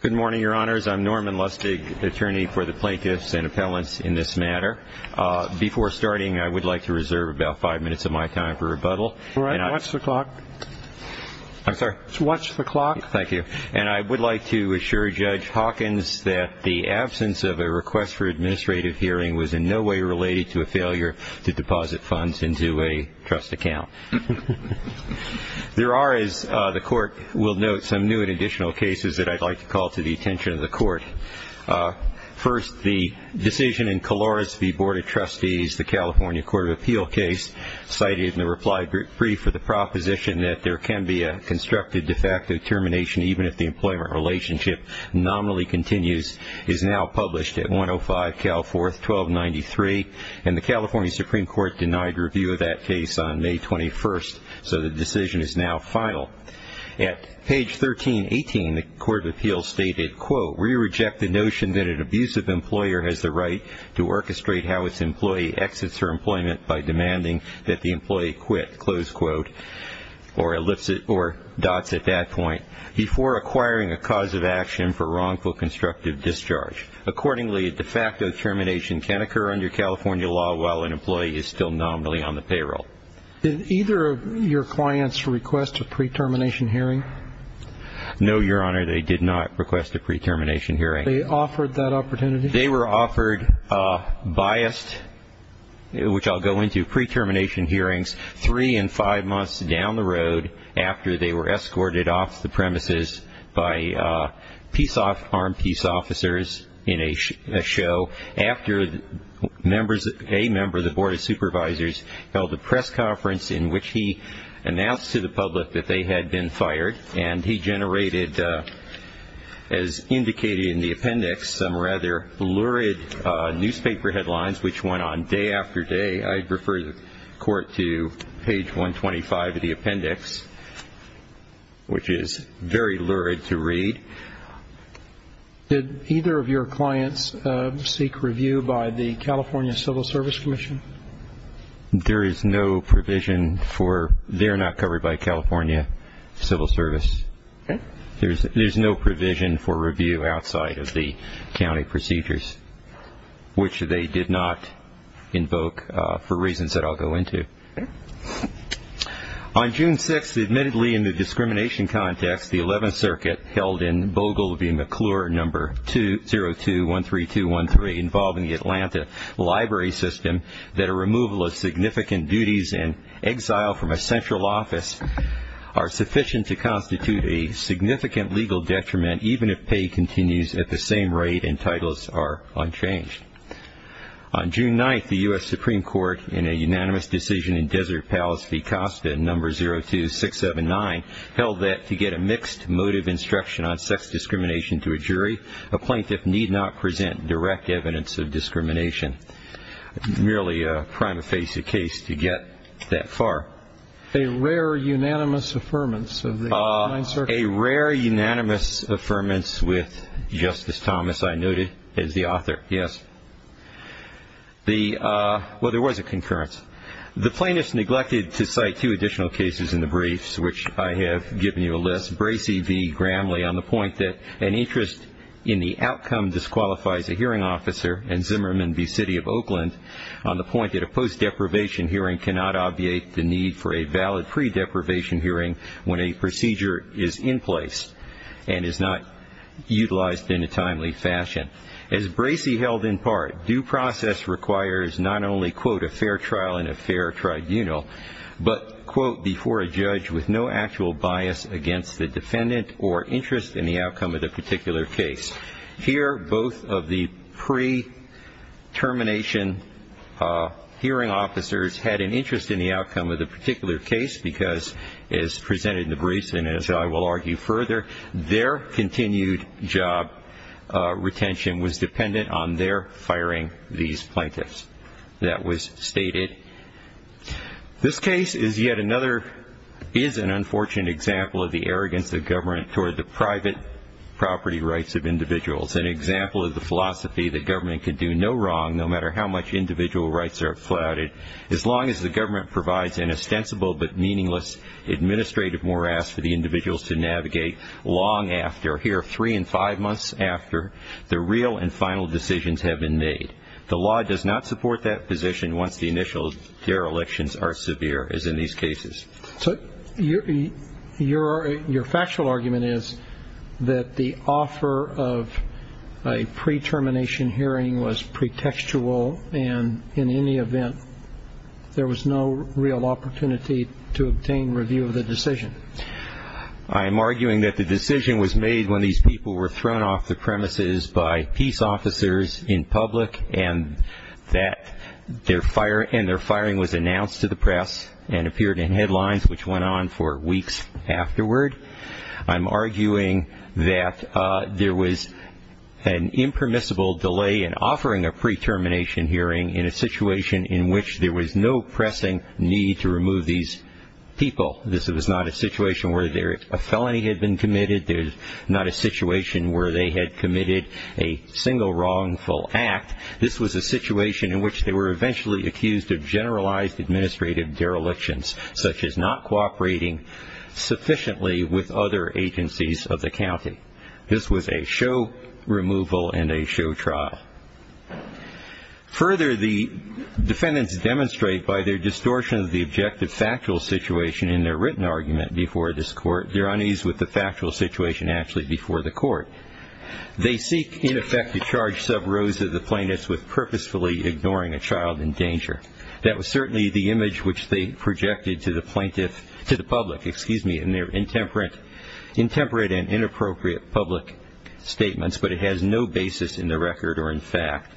Good morning, your honors. I'm Norman Lustig, attorney for the plaintiffs and appellants in this matter. Before starting, I would like to reserve about five minutes of my time for rebuttal. All right. Watch the clock. I'm sorry? Watch the clock. Thank you. And I would like to assure Judge Hawkins that the absence of a request for administrative hearing was in no way related to a failure to deposit funds into a trust account. There are, as the court will note, some new and additional cases that I'd like to call to the attention of the court. First, the decision in Caloris v. Board of Trustees, the California Court of Appeal case, cited in the reply brief for the proposition that there can be a constructed de facto termination even if the employment relationship nominally continues, is now published at 105 Cal 4th, 1293. And the California Supreme Court denied review of that case on May 21st. So the decision is now final. At page 1318, the Court of Appeals stated, quote, we reject the notion that an abusive employer has the right to orchestrate how its employee exits her employment by demanding that the employee quit, close quote, or dots at that point, before acquiring a cause of action for wrongful constructive discharge. Accordingly, a de facto termination can occur under California law while an employee is still nominally on the payroll. Did either of your clients request a pre-termination hearing? No, Your Honor, they did not request a pre-termination hearing. Were they offered that opportunity? They were offered biased, which I'll go into, pre-termination hearings three and five months down the road after they were escorted off the premises by armed peace officers in a show, after a member of the Board of Supervisors held a press conference in which he announced to the public that they had been fired, and he generated, as indicated in the appendix, some rather lurid newspaper headlines, which went on day after day. I'd refer the Court to page 125 of the appendix, which is very lurid to read. Did either of your clients seek review by the California Civil Service Commission? There is no provision for they're not covered by California Civil Service. Okay. There's no provision for review outside of the county procedures, which they did not invoke for reasons that I'll go into. On June 6th, admittedly in the discrimination context, the 11th Circuit held in Bogle v. McClure No. 0213213 involving the Atlanta library system that a removal of significant duties in exile from a central office are sufficient to constitute a significant legal detriment even if pay continues at the same rate and titles are unchanged. On June 9th, the U.S. Supreme Court, in a unanimous decision in Desert Palace v. Costa No. 02679, held that to get a mixed motive instruction on sex discrimination to a jury, a plaintiff need not present direct evidence of discrimination. Merely a prima facie case to get that far. A rare unanimous affirmance of the 9th Circuit. A rare unanimous affirmance with Justice Thomas, I noted, as the author. Yes. Well, there was a concurrence. The plaintiff's neglected to cite two additional cases in the briefs, which I have given you a list, Bracey v. Gramley on the point that an interest in the outcome disqualifies a hearing officer and Zimmerman v. City of Oakland on the point that a post-deprivation hearing cannot obviate the need for a valid pre-deprivation hearing when a procedure is in place and is not utilized in a timely fashion. As Bracey held in part, due process requires not only, quote, a fair trial in a fair tribunal, but, quote, before a judge with no actual bias against the defendant or interest in the outcome of the particular case. Here, both of the pre-termination hearing officers had an interest in the outcome of the particular case because, as presented in the briefs and as I will argue further, their continued job retention was dependent on their firing these plaintiffs. That was stated. This case is yet another, is an unfortunate example of the arrogance of government toward the private property rights of individuals, an example of the philosophy that government can do no wrong, no matter how much individual rights are flouted, as long as the government provides an ostensible but meaningless administrative morass for the individuals to navigate long after, here, three and five months after, the real and final decisions have been made. The law does not support that position once the initial derelictions are severe, as in these cases. So your factual argument is that the offer of a pre-termination hearing was pretextual and, in any event, there was no real opportunity to obtain review of the decision. I am arguing that the decision was made when these people were thrown off the premises by peace officers in public and that their firing was announced to the press and appeared in headlines, which went on for weeks afterward. I'm arguing that there was an impermissible delay in offering a pre-termination hearing in a situation in which there was no pressing need to remove these people. This was not a situation where a felony had been committed. This was not a situation where they had committed a single wrongful act. This was a situation in which they were eventually accused of generalized administrative derelictions, such as not cooperating sufficiently with other agencies of the county. This was a show removal and a show trial. Further, the defendants demonstrate by their distortion of the objective factual situation in their written argument before this court their unease with the factual situation actually before the court. They seek, in effect, to charge sub-rows of the plaintiffs with purposefully ignoring a child in danger. That was certainly the image which they projected to the public in their intemperate and inappropriate public statements, but it has no basis in the record or in fact.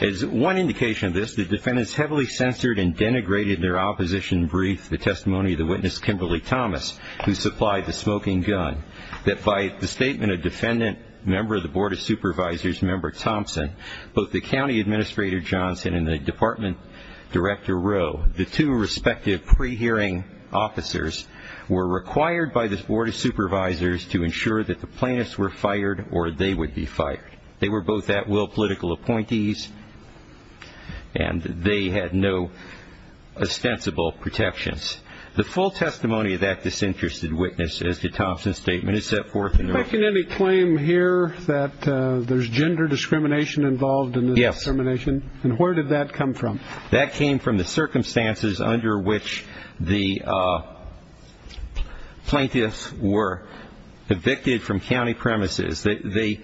As one indication of this, the defendants heavily censored and denigrated their opposition brief, the testimony of the witness, Kimberly Thomas, who supplied the smoking gun, that by the statement a defendant, member of the Board of Supervisors, member Thompson, both the County Administrator Johnson and the Department Director Rowe, the two respective pre-hearing officers were required by the Board of Supervisors to ensure that the plaintiffs were fired or they would be fired. They were both at-will political appointees, and they had no ostensible protections. The full testimony of that disinterested witness, as did Thompson's statement, is set forth in the record. Can any claim here that there's gender discrimination involved in this determination? Yes. And where did that come from? That came from the circumstances under which the plaintiffs were evicted from county premises. The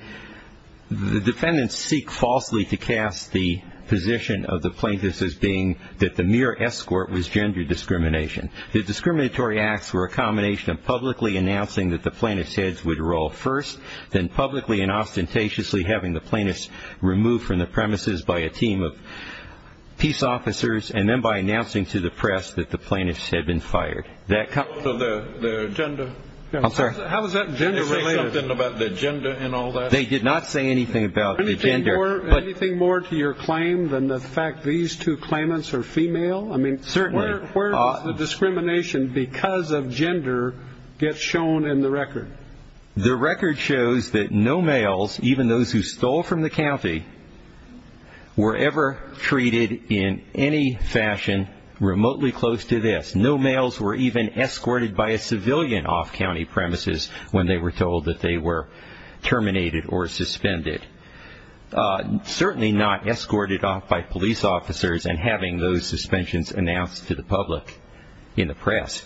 defendants seek falsely to cast the position of the plaintiffs as being that the mere escort was gender discrimination. The discriminatory acts were a combination of publicly announcing that the plaintiffs' heads would roll first, then publicly and ostentatiously having the plaintiffs removed from the premises by a team of peace officers, and then by announcing to the press that the plaintiffs had been fired. So the gender? I'm sorry? How is that gender-related? Did they say something about the gender in all that? They did not say anything about the gender. Anything more to your claim than the fact these two claimants are female? I mean, certainly. Where does the discrimination because of gender get shown in the record? The record shows that no males, even those who stole from the county, were ever treated in any fashion remotely close to this. No males were even escorted by a civilian off county premises when they were told that they were terminated or suspended. Certainly not escorted off by police officers and having those suspensions announced to the public in the press.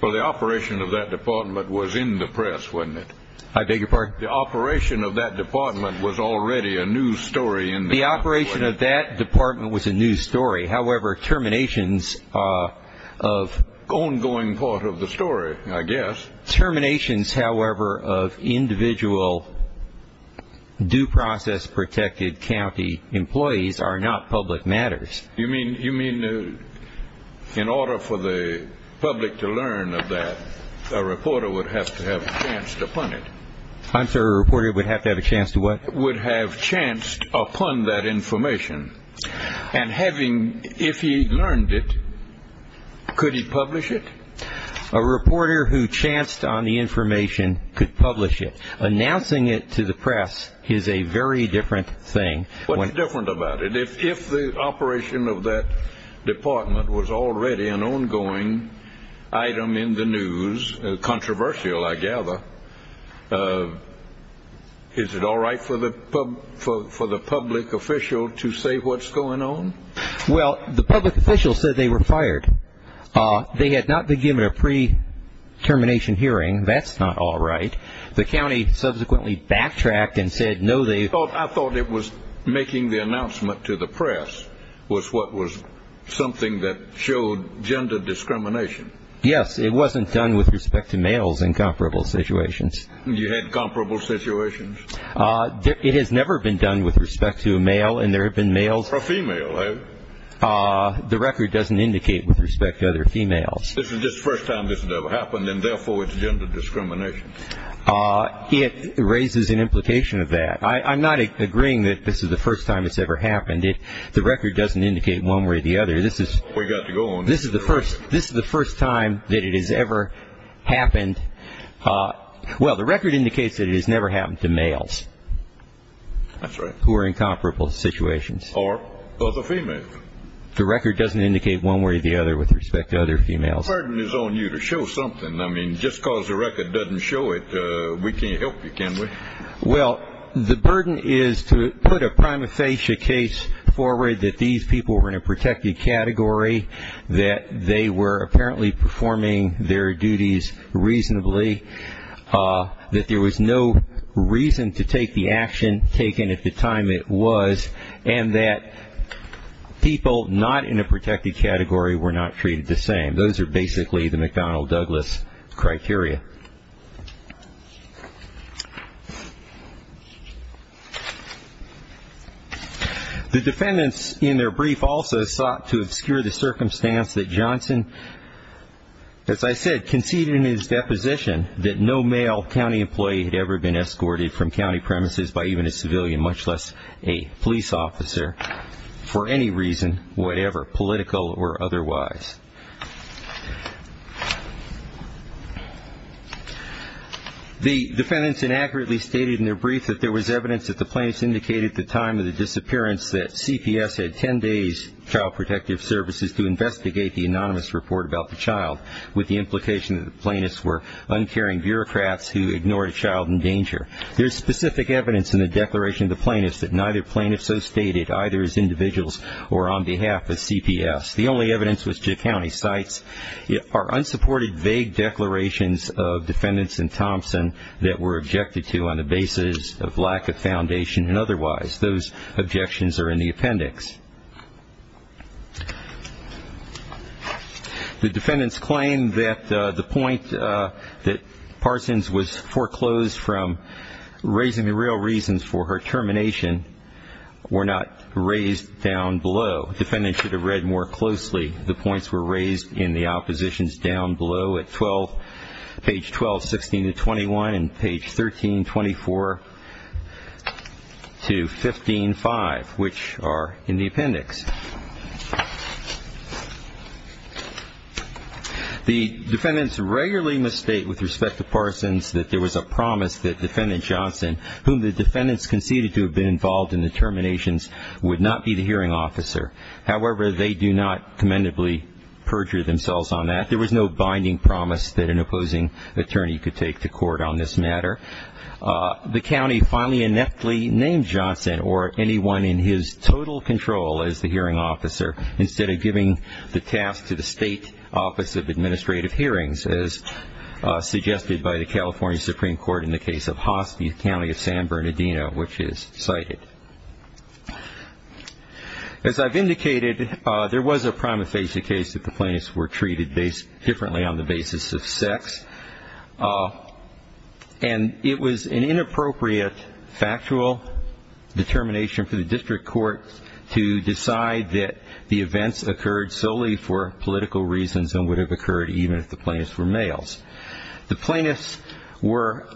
Well, the operation of that department was in the press, wasn't it? I beg your pardon? The operation of that department was already a news story in the press. The operation of that department was a news story. However, terminations of- Ongoing part of the story, I guess. Terminations, however, of individual due process protected county employees are not public matters. You mean in order for the public to learn of that, a reporter would have to have a chance to punish? I'm sorry, a reporter would have to have a chance to what? A reporter would have chanced upon that information. And if he learned it, could he publish it? A reporter who chanced on the information could publish it. Announcing it to the press is a very different thing. What's different about it? If the operation of that department was already an ongoing item in the news, controversial I gather, is it all right for the public official to say what's going on? Well, the public official said they were fired. They had not been given a pre-termination hearing. That's not all right. The county subsequently backtracked and said no, they- I thought it was making the announcement to the press was what was something that showed gender discrimination. Yes, it wasn't done with respect to males in comparable situations. You had comparable situations? It has never been done with respect to a male, and there have been males- Or female, have you? The record doesn't indicate with respect to other females. This is just the first time this has ever happened, and therefore it's gender discrimination. It raises an implication of that. I'm not agreeing that this is the first time it's ever happened. The record doesn't indicate one way or the other. We've got to go on. This is the first time that it has ever happened. Well, the record indicates that it has never happened to males. That's right. Who are in comparable situations. Or other females. The record doesn't indicate one way or the other with respect to other females. The burden is on you to show something. I mean, just because the record doesn't show it, we can't help you, can we? Well, the burden is to put a prima facie case forward that these people were in a protected category, that they were apparently performing their duties reasonably, that there was no reason to take the action taken at the time it was, and that people not in a protected category were not treated the same. Those are basically the McDonnell-Douglas criteria. The defendants in their brief also sought to obscure the circumstance that Johnson, as I said, conceded in his deposition that no male county employee had ever been escorted from county premises by even a civilian, much less a police officer, for any reason, whatever, political or otherwise. The defendants inaccurately stated in their brief that there was evidence that the plaintiffs indicated at the time of the disappearance that CPS had 10 days child protective services to investigate the anonymous report about the child, with the implication that the plaintiffs were uncaring bureaucrats who ignored a child in danger. There is specific evidence in the declaration of the plaintiffs that neither plaintiff so stated, either as individuals or on behalf of CPS. The only evidence which the county cites are unsupported vague declarations of defendants in Thompson that were objected to on the basis of lack of foundation and otherwise. Those objections are in the appendix. The defendants claim that the point that Parsons was foreclosed from raising the real reasons for her termination were not raised down below. Defendants should have read more closely. The points were raised in the oppositions down below at 12, page 12, 16 to 21, and page 13, 24 to 15, 5, which are in the appendix. The defendants regularly must state with respect to Parsons that there was a promise that defendant Johnson, whom the defendants conceded to have been involved in the terminations, would not be the hearing officer. However, they do not commendably perjure themselves on that. There was no binding promise that an opposing attorney could take to court on this matter. The county finally ineptly named Johnson or anyone in his total control as the hearing officer instead of giving the task to the State Office of Administrative Hearings, as suggested by the California Supreme Court in the case of Hospice County of San Bernardino, which is cited. As I've indicated, there was a prima facie case that the plaintiffs were treated differently on the basis of sex. And it was an inappropriate factual determination for the district court to decide that the events occurred solely for political reasons and would have occurred even if the plaintiffs were males. The plaintiffs were,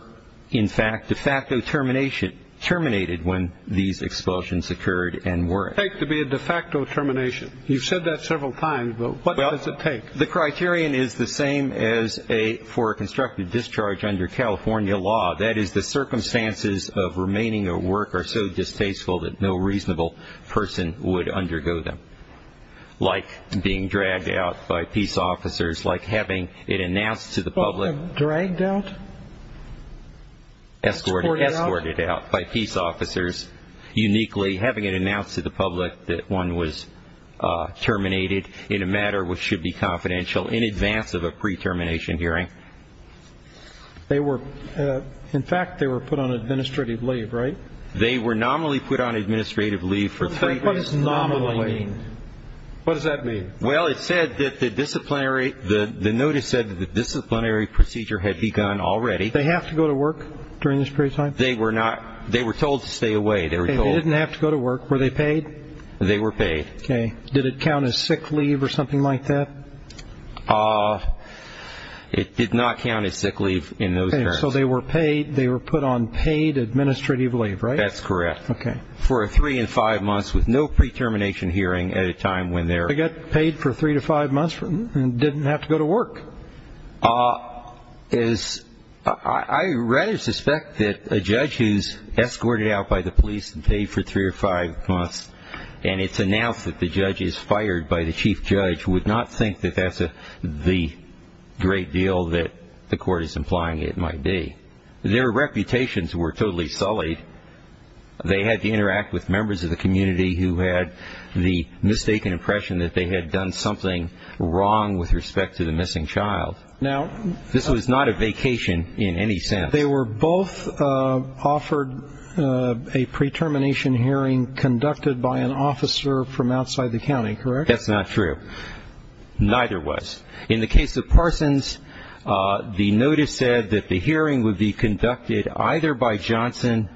in fact, de facto terminated when these expulsions occurred and weren't. Take to be a de facto termination. You've said that several times, but what does it take? The criterion is the same as for a constructive discharge under California law. That is, the circumstances of remaining or work are so distasteful that no reasonable person would undergo them, like being dragged out by peace officers, like having it announced to the public. Dragged out? Escorted out. Escorted out by peace officers. Uniquely, having it announced to the public that one was terminated in a matter which should be confidential in advance of a pre-termination hearing. They were, in fact, they were put on administrative leave, right? They were nominally put on administrative leave for three weeks. What does nominally mean? What does that mean? Well, it said that the disciplinary, the notice said that the disciplinary procedure had begun already. They have to go to work during this period of time? They were not. They were told to stay away. They were told. They didn't have to go to work. Were they paid? They were paid. Okay. Did it count as sick leave or something like that? It did not count as sick leave in those terms. Okay. So they were paid. They were put on paid administrative leave, right? That's correct. Okay. For three and five months with no pre-termination hearing at a time when they're... They got paid for three to five months and didn't have to go to work? I rather suspect that a judge who's escorted out by the police and paid for three or five months and it's announced that the judge is fired by the chief judge, would not think that that's the great deal that the court is implying it might be. Their reputations were totally sullied. They had to interact with members of the community who had the mistaken impression that they had done something wrong with respect to the missing child. Now... This was not a vacation in any sense. They were both offered a pre-termination hearing conducted by an officer from outside the county, correct? That's not true. Neither was. In the case of Parsons, the notice said that the hearing would be conducted either by Johnson,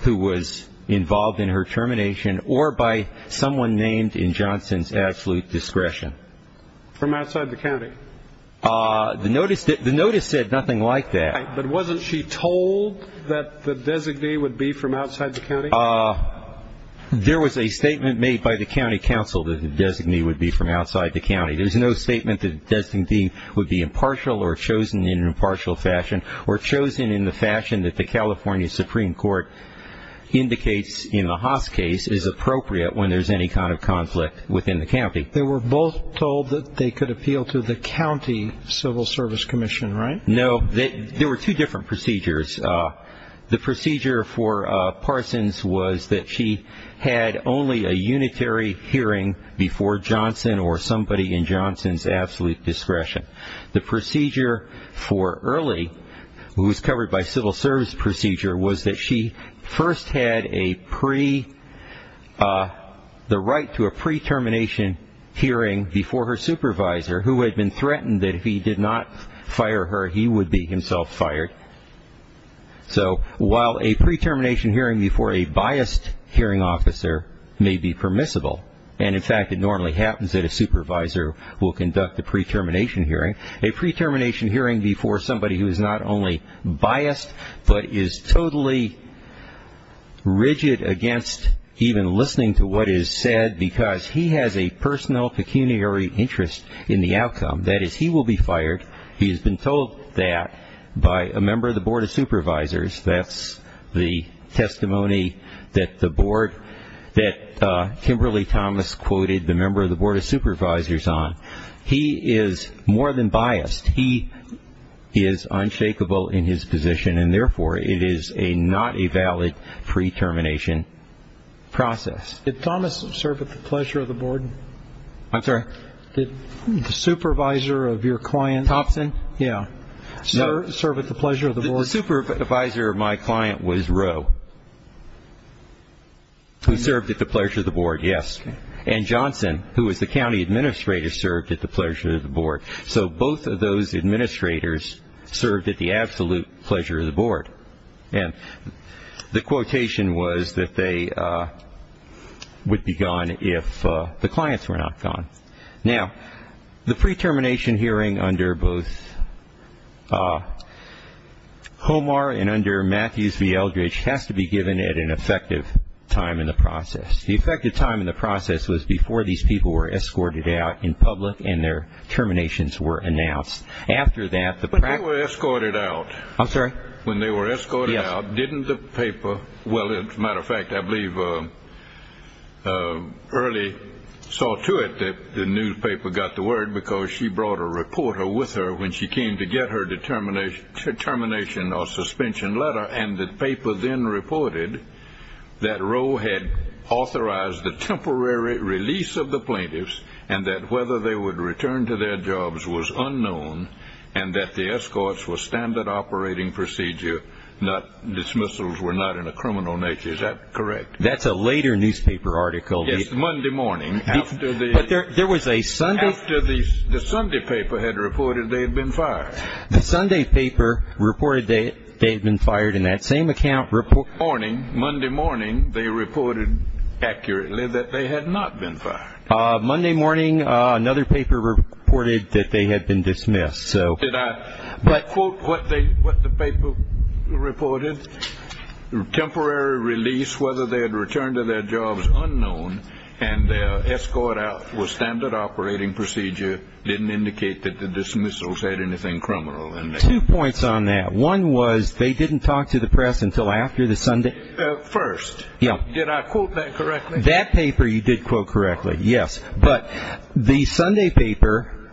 who was involved in her termination, or by someone named in Johnson's absolute discretion. From outside the county? The notice said nothing like that. But wasn't she told that the designee would be from outside the county? There was a statement made by the county council that the designee would be from outside the county. There's no statement that the designee would be impartial or chosen in an impartial fashion or chosen in the fashion that the California Supreme Court indicates in the Haas case is appropriate when there's any kind of conflict within the county. They were both told that they could appeal to the county civil service commission, right? No. There were two different procedures. The procedure for Parsons was that she had only a unitary hearing before Johnson or somebody in Johnson's absolute discretion. The procedure for Early, who was covered by civil service procedure, was that she first had the right to a pre-termination hearing before her supervisor, who had been threatened that if he did not fire her, he would be himself fired. So while a pre-termination hearing before a biased hearing officer may be permissible, and, in fact, it normally happens that a supervisor will conduct a pre-termination hearing, a pre-termination hearing before somebody who is not only biased but is totally rigid against even listening to what is said because he has a personal pecuniary interest in the outcome, that is, he will be fired. He has been told that by a member of the Board of Supervisors. That's the testimony that the Board that Kimberly Thomas quoted the member of the Board of Supervisors on. He is more than biased. He is unshakable in his position, and, therefore, it is not a valid pre-termination process. Did Thomas serve at the pleasure of the Board? I'm sorry? The supervisor of your client. Thompson? Yeah. Serve at the pleasure of the Board? The supervisor of my client was Rowe, who served at the pleasure of the Board, yes, and Johnson, who was the county administrator, served at the pleasure of the Board. So both of those administrators served at the absolute pleasure of the Board, and the quotation was that they would be gone if the clients were not gone. Now, the pre-termination hearing under both Homar and under Matthews v. Eldridge has to be given at an effective time in the process. The effective time in the process was before these people were escorted out in public and their terminations were announced. After that, the practice- When they were escorted out- I'm sorry? When they were escorted out, didn't the paper, well, as a matter of fact, I believe Early saw to it that the newspaper got the word because she brought a reporter with her when she came to get her termination or suspension letter, and the paper then reported that Rowe had authorized the temporary release of the plaintiffs and that whether they would return to their jobs was unknown and that the escorts were standard operating procedure, dismissals were not in a criminal nature. Is that correct? That's a later newspaper article. Yes, Monday morning. But there was a Sunday- After the Sunday paper had reported they had been fired. The Sunday paper reported they had been fired in that same account- Morning, Monday morning, they reported accurately that they had not been fired. Monday morning, another paper reported that they had been dismissed. Did I quote what the paper reported? Temporary release, whether they had returned to their jobs, unknown, and their escort out was standard operating procedure, didn't indicate that the dismissals had anything criminal in them. Two points on that. One was they didn't talk to the press until after the Sunday- First, did I quote that correctly? That paper you did quote correctly, yes. But the Sunday paper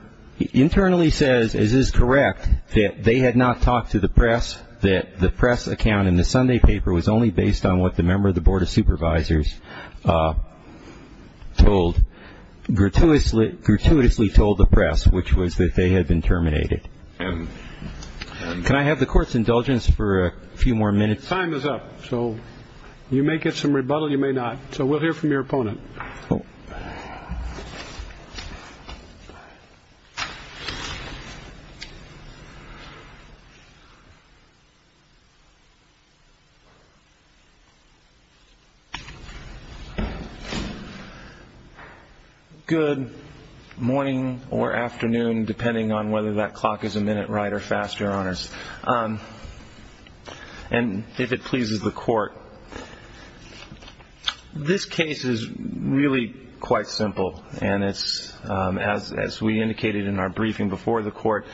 internally says, is this correct, that they had not talked to the press, that the press account in the Sunday paper was only based on what the member of the Board of Supervisors told- gratuitously told the press, which was that they had been terminated. Can I have the Court's indulgence for a few more minutes? Time is up, so you may get some rebuttal, you may not. So we'll hear from your opponent. Good morning or afternoon, depending on whether that clock is a minute right or faster on us. And if it pleases the Court. This case is really quite simple, and it's, as we indicated in our briefing before the Court,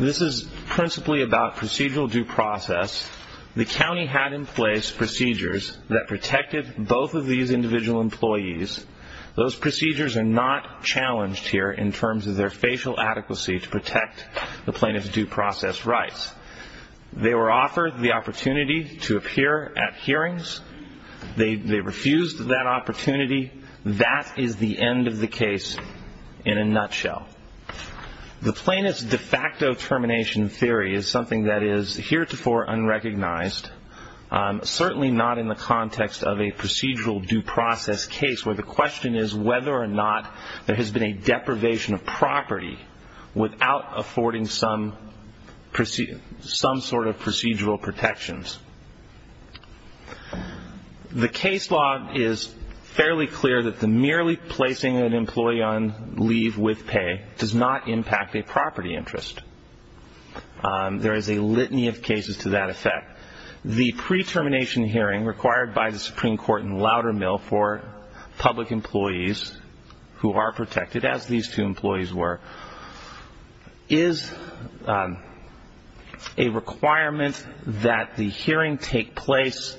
this is principally about procedural due process. The county had in place procedures that protected both of these individual employees. Those procedures are not challenged here in terms of their facial adequacy to protect the plaintiff's due process rights. They were offered the opportunity to appear at hearings. They refused that opportunity. That is the end of the case in a nutshell. The plaintiff's de facto termination theory is something that is heretofore unrecognized, certainly not in the context of a procedural due process case, where the question is whether or not there has been a deprivation of property without affording some sort of procedural protections. The case law is fairly clear that the merely placing an employee on leave with pay does not impact a property interest. There is a litany of cases to that effect. The pre-termination hearing required by the Supreme Court in Loudermill for public employees who are protected, as these two employees were, is a requirement that the hearing take place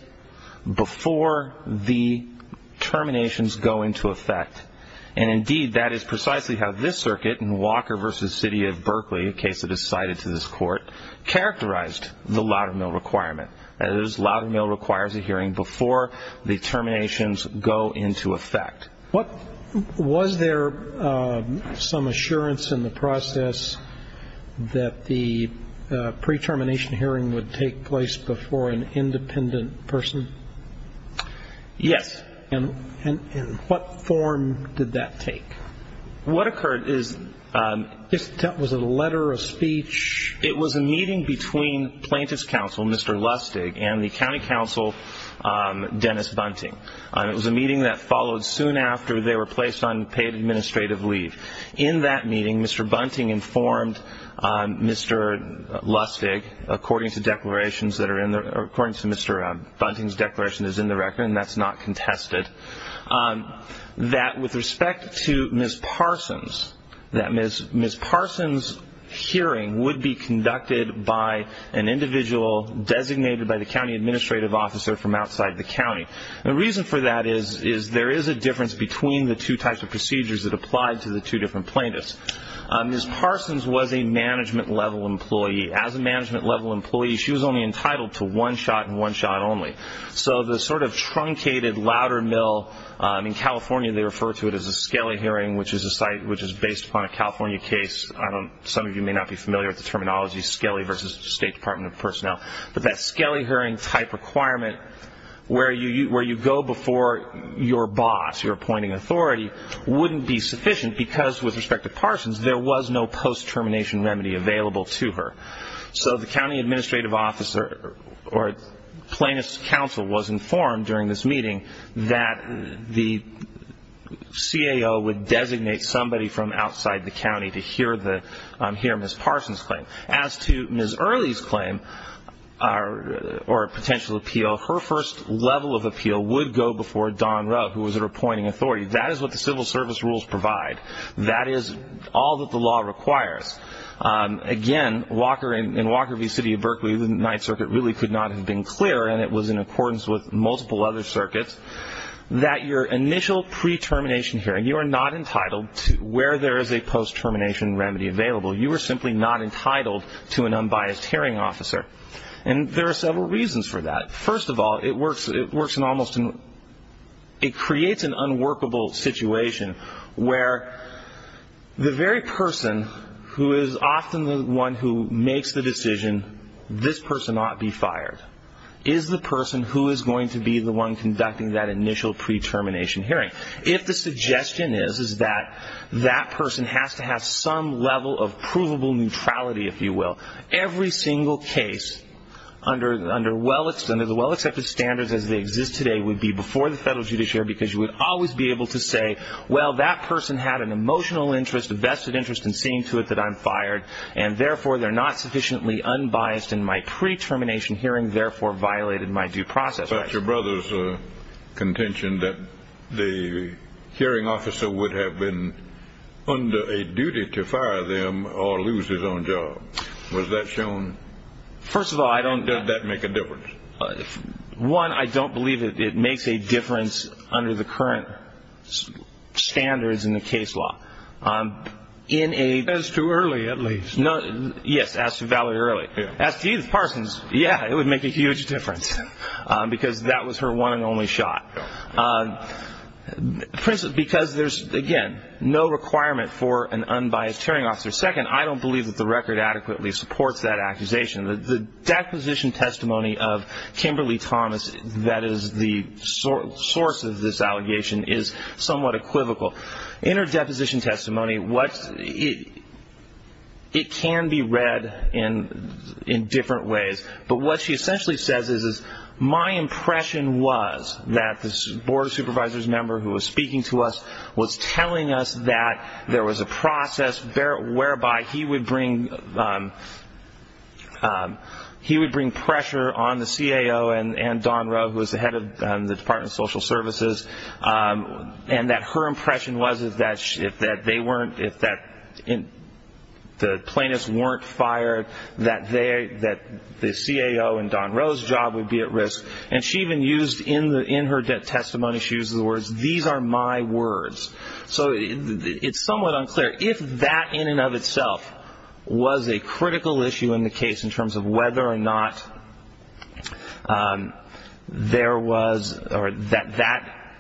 before the terminations go into effect. Indeed, that is precisely how this circuit in Walker v. City of Berkeley, a case that is cited to this court, characterized the Loudermill requirement. That is, Loudermill requires a hearing before the terminations go into effect. Was there some assurance in the process that the pre-termination hearing would take place before an independent person? Yes. And what form did that take? What occurred is that was a letter of speech. It was a meeting between plaintiff's counsel, Mr. Lustig, and the county counsel, Dennis Bunting. It was a meeting that followed soon after they were placed on paid administrative leave. In that meeting, Mr. Bunting informed Mr. Lustig, according to Mr. Bunting's declaration that is in the record, and that is not contested, that with respect to Ms. Parsons, that Ms. Parsons' hearing would be conducted by an individual designated by the county administrative officer from outside the county. The reason for that is there is a difference between the two types of procedures that applied to the two different plaintiffs. Ms. Parsons was a management-level employee. As a management-level employee, she was only entitled to one shot and one shot only. So the sort of truncated, louder mill, in California they refer to it as a Skelly hearing, which is based upon a California case. Some of you may not be familiar with the terminology, Skelly versus State Department of Personnel. But that Skelly hearing-type requirement where you go before your boss, your appointing authority, wouldn't be sufficient because, with respect to Parsons, there was no post-termination remedy available to her. So the county administrative officer or plaintiff's counsel was informed during this meeting that the CAO would designate somebody from outside the county to hear Ms. Parsons' claim. As to Ms. Earley's claim or potential appeal, her first level of appeal would go before Don Rowe, who was her appointing authority. That is what the civil service rules provide. That is all that the law requires. Again, in Walker v. City of Berkeley, the Ninth Circuit really could not have been clearer, and it was in accordance with multiple other circuits, that your initial pre-termination hearing, you are not entitled to where there is a post-termination remedy available. You are simply not entitled to an unbiased hearing officer. And there are several reasons for that. First of all, it creates an unworkable situation where the very person who is often the one who makes the decision, this person ought to be fired, is the person who is going to be the one conducting that initial pre-termination hearing. If the suggestion is that that person has to have some level of provable neutrality, if you will, every single case under the well-accepted standards as they exist today would be before the federal judiciary because you would always be able to say, well, that person had an emotional interest, a vested interest in seeing to it that I'm fired, and therefore they're not sufficiently unbiased in my pre-termination hearing, therefore violated my due process. You talked about your brother's contention that the hearing officer would have been under a duty to fire them or lose his own job. Was that shown? First of all, I don't... Does that make a difference? One, I don't believe it makes a difference under the current standards in the case law. As to Early, at least. Yes, as to Valerie Early. As to Edith Parsons, yeah, it would make a huge difference because that was her one and only shot. Because there's, again, no requirement for an unbiased hearing officer. Second, I don't believe that the record adequately supports that accusation. The deposition testimony of Kimberly Thomas that is the source of this allegation is somewhat equivocal. In her deposition testimony, it can be read in different ways, but what she essentially says is, my impression was that the board of supervisors member who was speaking to us was telling us that there was a process whereby he would bring pressure on the CAO and Don Rowe, who was the head of the Department of Social Services, and that her impression was that if the plaintiffs weren't fired, that the CAO and Don Rowe's job would be at risk. And she even used in her testimony, she used the words, these are my words. So it's somewhat unclear. If that in and of itself was a critical issue in the case in terms of whether or not there was, or that,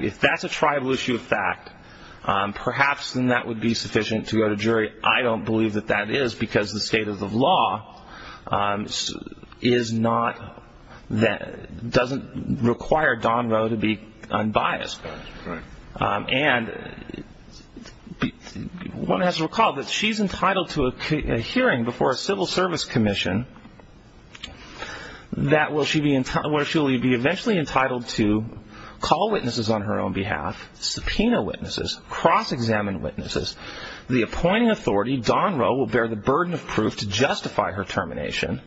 if that's a tribal issue of fact, perhaps then that would be sufficient to go to jury. I don't believe that that is because the state of the law is not, doesn't require Don Rowe to be unbiased. And one has to recall that she's entitled to a hearing before a civil service commission where she will be eventually entitled to call witnesses on her own behalf, subpoena witnesses, cross-examine witnesses. The appointing authority, Don Rowe, will bear the burden of proof to justify her termination.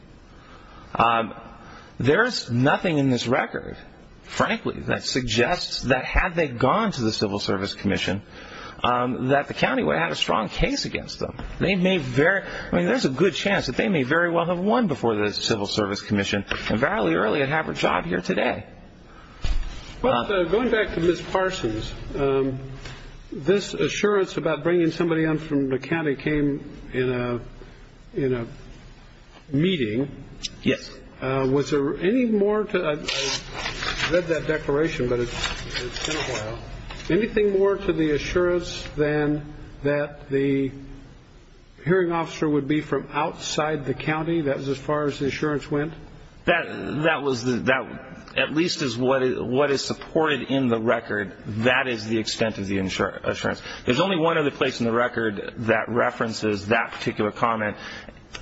There's nothing in this record, frankly, that suggests that had they gone to the civil service commission, that the county would have had a strong case against them. They may very, I mean, there's a good chance that they may very well have won before the civil service commission and fairly early and have her job here today. Well, going back to Ms. Parsons, this assurance about bringing somebody in from the county came in a meeting. Yes. Was there any more, I read that declaration, but it's been a while. Anything more to the assurance than that the hearing officer would be from outside the county? That was as far as the assurance went? That was at least as what is supported in the record. That is the extent of the assurance. There's only one other place in the record that references that particular comment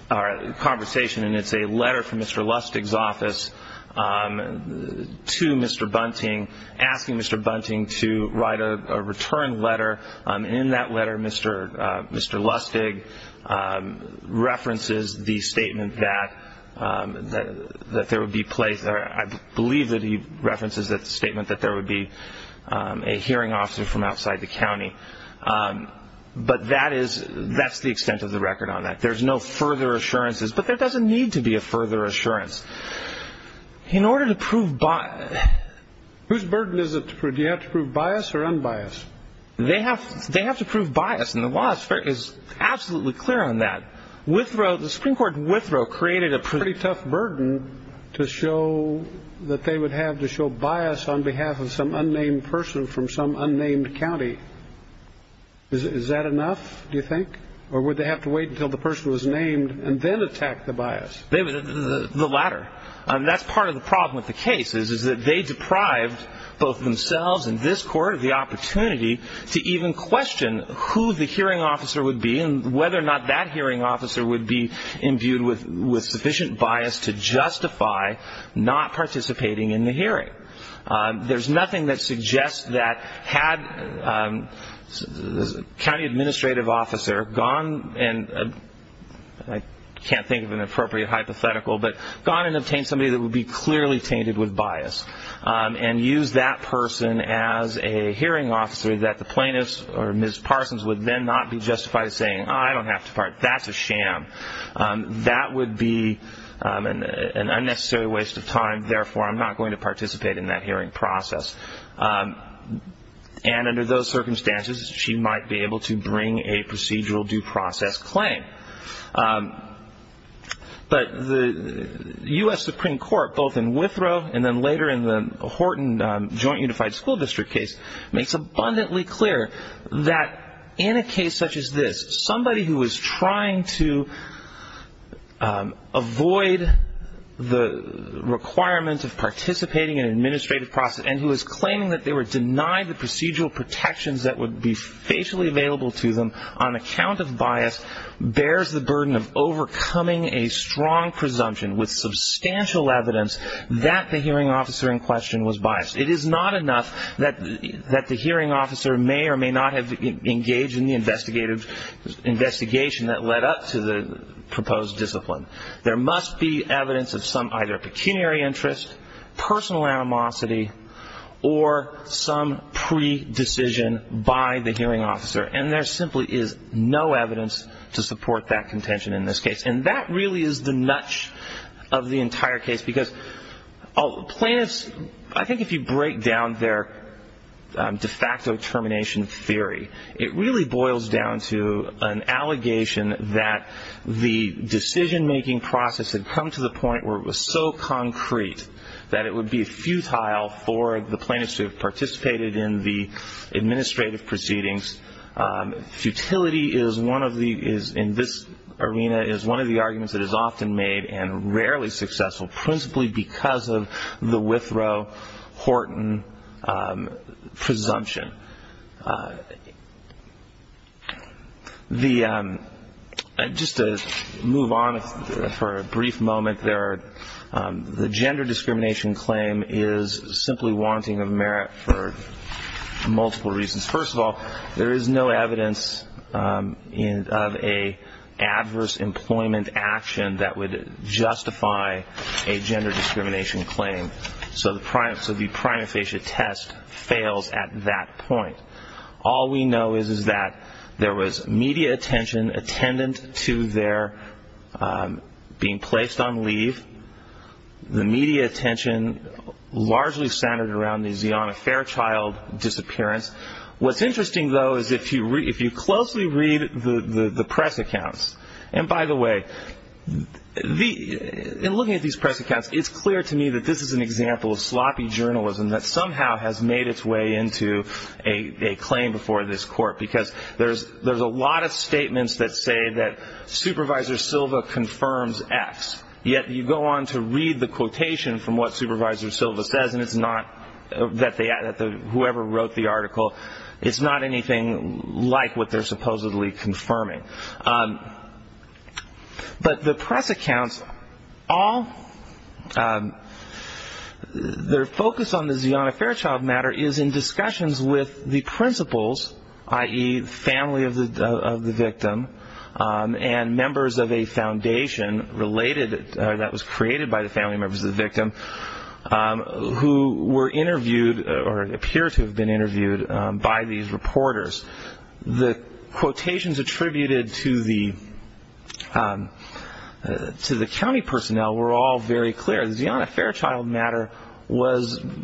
or conversation, and it's a letter from Mr. Lustig's office to Mr. Bunting asking Mr. Bunting to write a return letter. In that letter, Mr. Lustig references the statement that there would be place, or I believe that he references the statement that there would be a hearing officer from outside the county. But that's the extent of the record on that. There's no further assurances, but there doesn't need to be a further assurance. In order to prove bias. Whose burden is it? Do you have to prove bias or unbiased? They have to prove bias, and the law is absolutely clear on that. The Supreme Court withdrew created a pretty tough burden to show that they would have to show bias on behalf of some unnamed person from some unnamed county. Is that enough, do you think? Or would they have to wait until the person was named and then attack the bias? The latter. That's part of the problem with the case is that they deprived both themselves and this court of the opportunity to even question who the hearing officer would be and whether or not that hearing officer would be imbued with sufficient bias to justify not participating in the hearing. There's nothing that suggests that had a county administrative officer gone and I can't think of an appropriate hypothetical, but gone and obtained somebody that would be clearly tainted with bias and used that person as a hearing officer that the plaintiff or Ms. Parsons would then not be justified saying, I don't have to part. That's a sham. That would be an unnecessary waste of time. Therefore, I'm not going to participate in that hearing process. And under those circumstances, she might be able to bring a procedural due process claim. But the U.S. Supreme Court, both in Withrow and then later in the Horton Joint Unified School District case, makes abundantly clear that in a case such as this, somebody who is trying to avoid the requirement of participating in an administrative process and who is claiming that they were denied the procedural protections that would be facially available to them on account of bias, bears the burden of overcoming a strong presumption with substantial evidence that the hearing officer in question was biased. It is not enough that the hearing officer may or may not have engaged in the investigation that led up to the proposed discipline. There must be evidence of some either pecuniary interest, personal animosity, or some pre-decision by the hearing officer. And there simply is no evidence to support that contention in this case. And that really is the nudge of the entire case because plaintiffs, I think if you break down their de facto termination theory, it really boils down to an allegation that the decision-making process had come to the point where it was so concrete that it would be futile for the plaintiffs to have participated in the administrative proceedings. Futility in this arena is one of the arguments that is often made and rarely successful, principally because of the Withrow-Horton presumption. Just to move on for a brief moment, the gender discrimination claim is simply wanting of merit for multiple reasons. First of all, there is no evidence of an adverse employment action that would justify a gender discrimination claim. So the prima facie test fails at that point. All we know is that there was media attention attendant to their being placed on leave. The media attention largely centered around the Zeana Fairchild disappearance. What's interesting, though, is if you closely read the press accounts, and by the way, in looking at these press accounts, it's clear to me that this is an example of sloppy journalism that somehow has made its way into a claim before this court because there's a lot of statements that say that Supervisor Silva confirms X, yet you go on to read the quotation from what Supervisor Silva says, and it's not that whoever wrote the article, it's not anything like what they're supposedly confirming. But the press accounts, their focus on the Zeana Fairchild matter is in discussions with the principals, i.e., the family of the victim and members of a foundation that was created by the family members of the victim who were interviewed or appear to have been interviewed by these reporters. The quotations attributed to the county personnel were all very clear. The Zeana Fairchild matter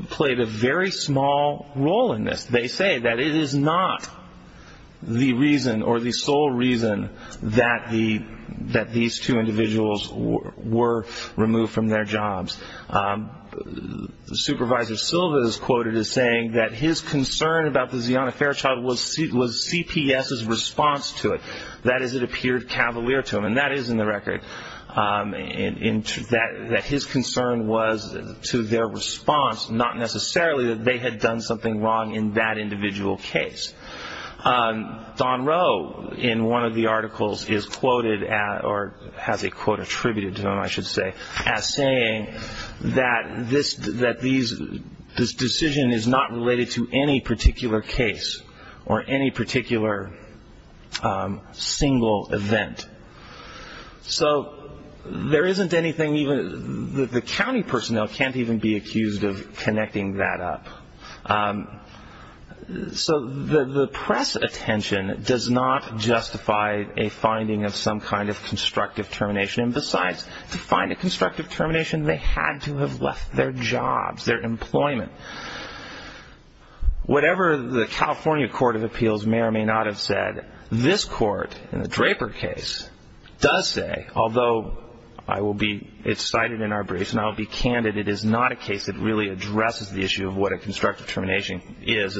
played a very small role in this. They say that it is not the reason or the sole reason that these two individuals were removed from their jobs. Supervisor Silva is quoted as saying that his concern about the Zeana Fairchild was CPS's response to it, that is, it appeared cavalier to him, and that is in the record, that his concern was to their response, not necessarily that they had done something wrong in that individual case. Don Rowe, in one of the articles, is quoted, or has a quote attributed to him, I should say, as saying that this decision is not related to any particular case or any particular single event. So there isn't anything even, the county personnel can't even be accused of connecting that up. So the press attention does not justify a finding of some kind of constructive termination. And besides, to find a constructive termination, they had to have left their jobs, their employment. Whatever the California Court of Appeals may or may not have said, this court, in the Draper case, does say, although it's cited in our briefs and I'll be candid, it is not a case that really addresses the issue of what a constructive termination is.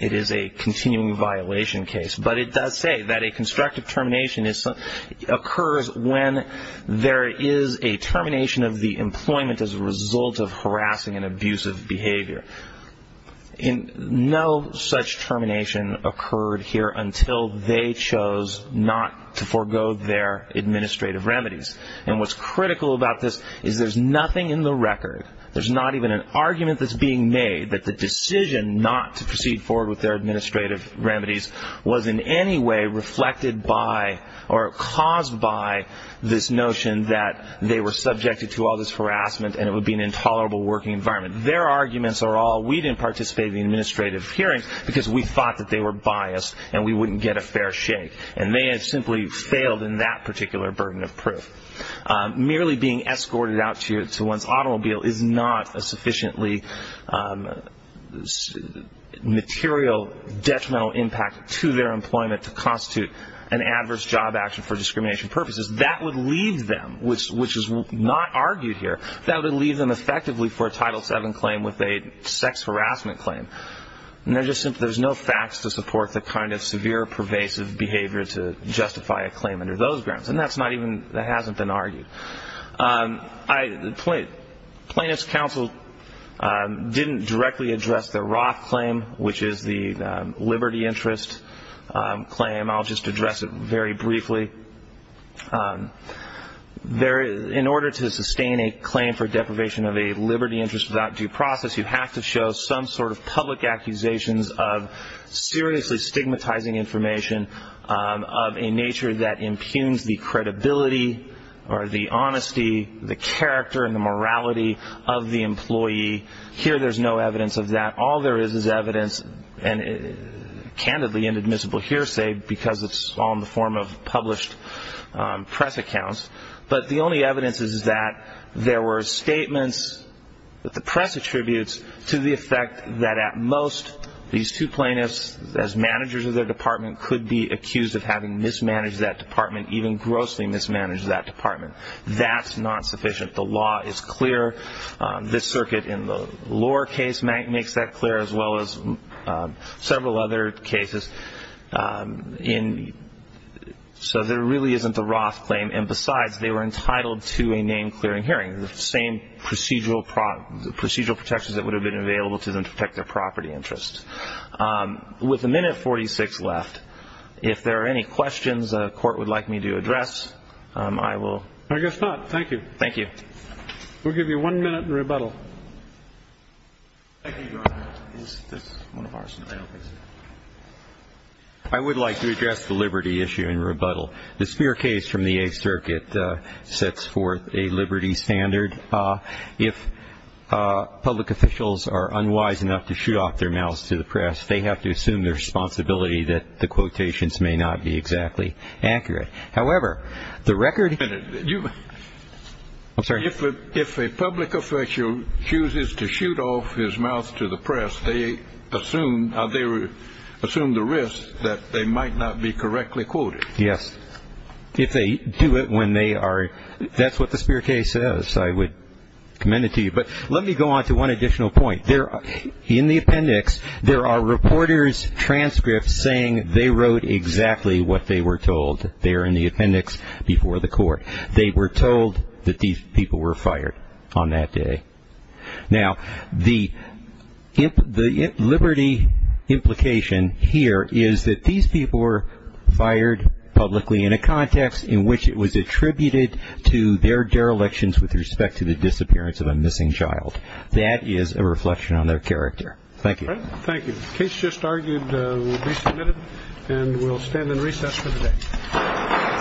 It is a continuing violation case. But it does say that a constructive termination occurs when there is a termination of the employment as a result of harassing and abusive behavior. And no such termination occurred here until they chose not to forego their administrative remedies. And what's critical about this is there's nothing in the record, there's not even an argument that's being made that the decision not to proceed forward with their administrative remedies was in any way reflected by or caused by this notion that they were subjected to all this harassment and it would be an intolerable working environment. Their arguments are all, we didn't participate in the administrative hearings because we thought that they were biased and we wouldn't get a fair shake. And they had simply failed in that particular burden of proof. Merely being escorted out to one's automobile is not a sufficiently material detrimental impact to their employment to constitute an adverse job action for discrimination purposes. That would leave them, which is not argued here, that would leave them effectively for a Title VII claim with a sex harassment claim. And there's no facts to support the kind of severe pervasive behavior to justify a claim under those grounds. And that's not even, that hasn't been argued. Plaintiff's counsel didn't directly address the Roth claim, which is the liberty interest claim. I'll just address it very briefly. In order to sustain a claim for deprivation of a liberty interest without due process, you have to show some sort of public accusations of seriously stigmatizing information of a nature that impugns the credibility or the honesty, the character and the morality of the employee. Here there's no evidence of that. All there is is evidence, and candidly inadmissible here, say, because it's all in the form of published press accounts. But the only evidence is that there were statements that the press attributes to the effect that at most these two plaintiffs, as managers of their department, could be accused of having mismanaged that department, even grossly mismanaged that department. That's not sufficient. The law is clear. This circuit in the Lohr case makes that clear as well as several other cases. So there really isn't a Roth claim. And besides, they were entitled to a name-clearing hearing, the same procedural protections that would have been available to them to protect their property interests. With a minute 46 left, if there are any questions the Court would like me to address, I will. I guess not. Thank you. Thank you. We'll give you one minute in rebuttal. I would like to address the liberty issue in rebuttal. The Spear case from the Eighth Circuit sets forth a liberty standard. If public officials are unwise enough to shoot off their mouths to the press, they have to assume the responsibility that the quotations may not be exactly accurate. However, the record- If a public official chooses to shoot off his mouth to the press, they assume the risk that they might not be correctly quoted. Yes. If they do it when they are- That's what the Spear case says. I would commend it to you. But let me go on to one additional point. In the appendix, there are reporters' transcripts saying they wrote exactly what they were told. They're in the appendix before the Court. They were told that these people were fired on that day. Now, the liberty implication here is that these people were fired publicly in a context in which it was attributed to their derelictions with respect to the disappearance of a missing child. That is a reflection on their character. Thank you. Thank you. The case just argued will be submitted, and we'll stand in recess for the day.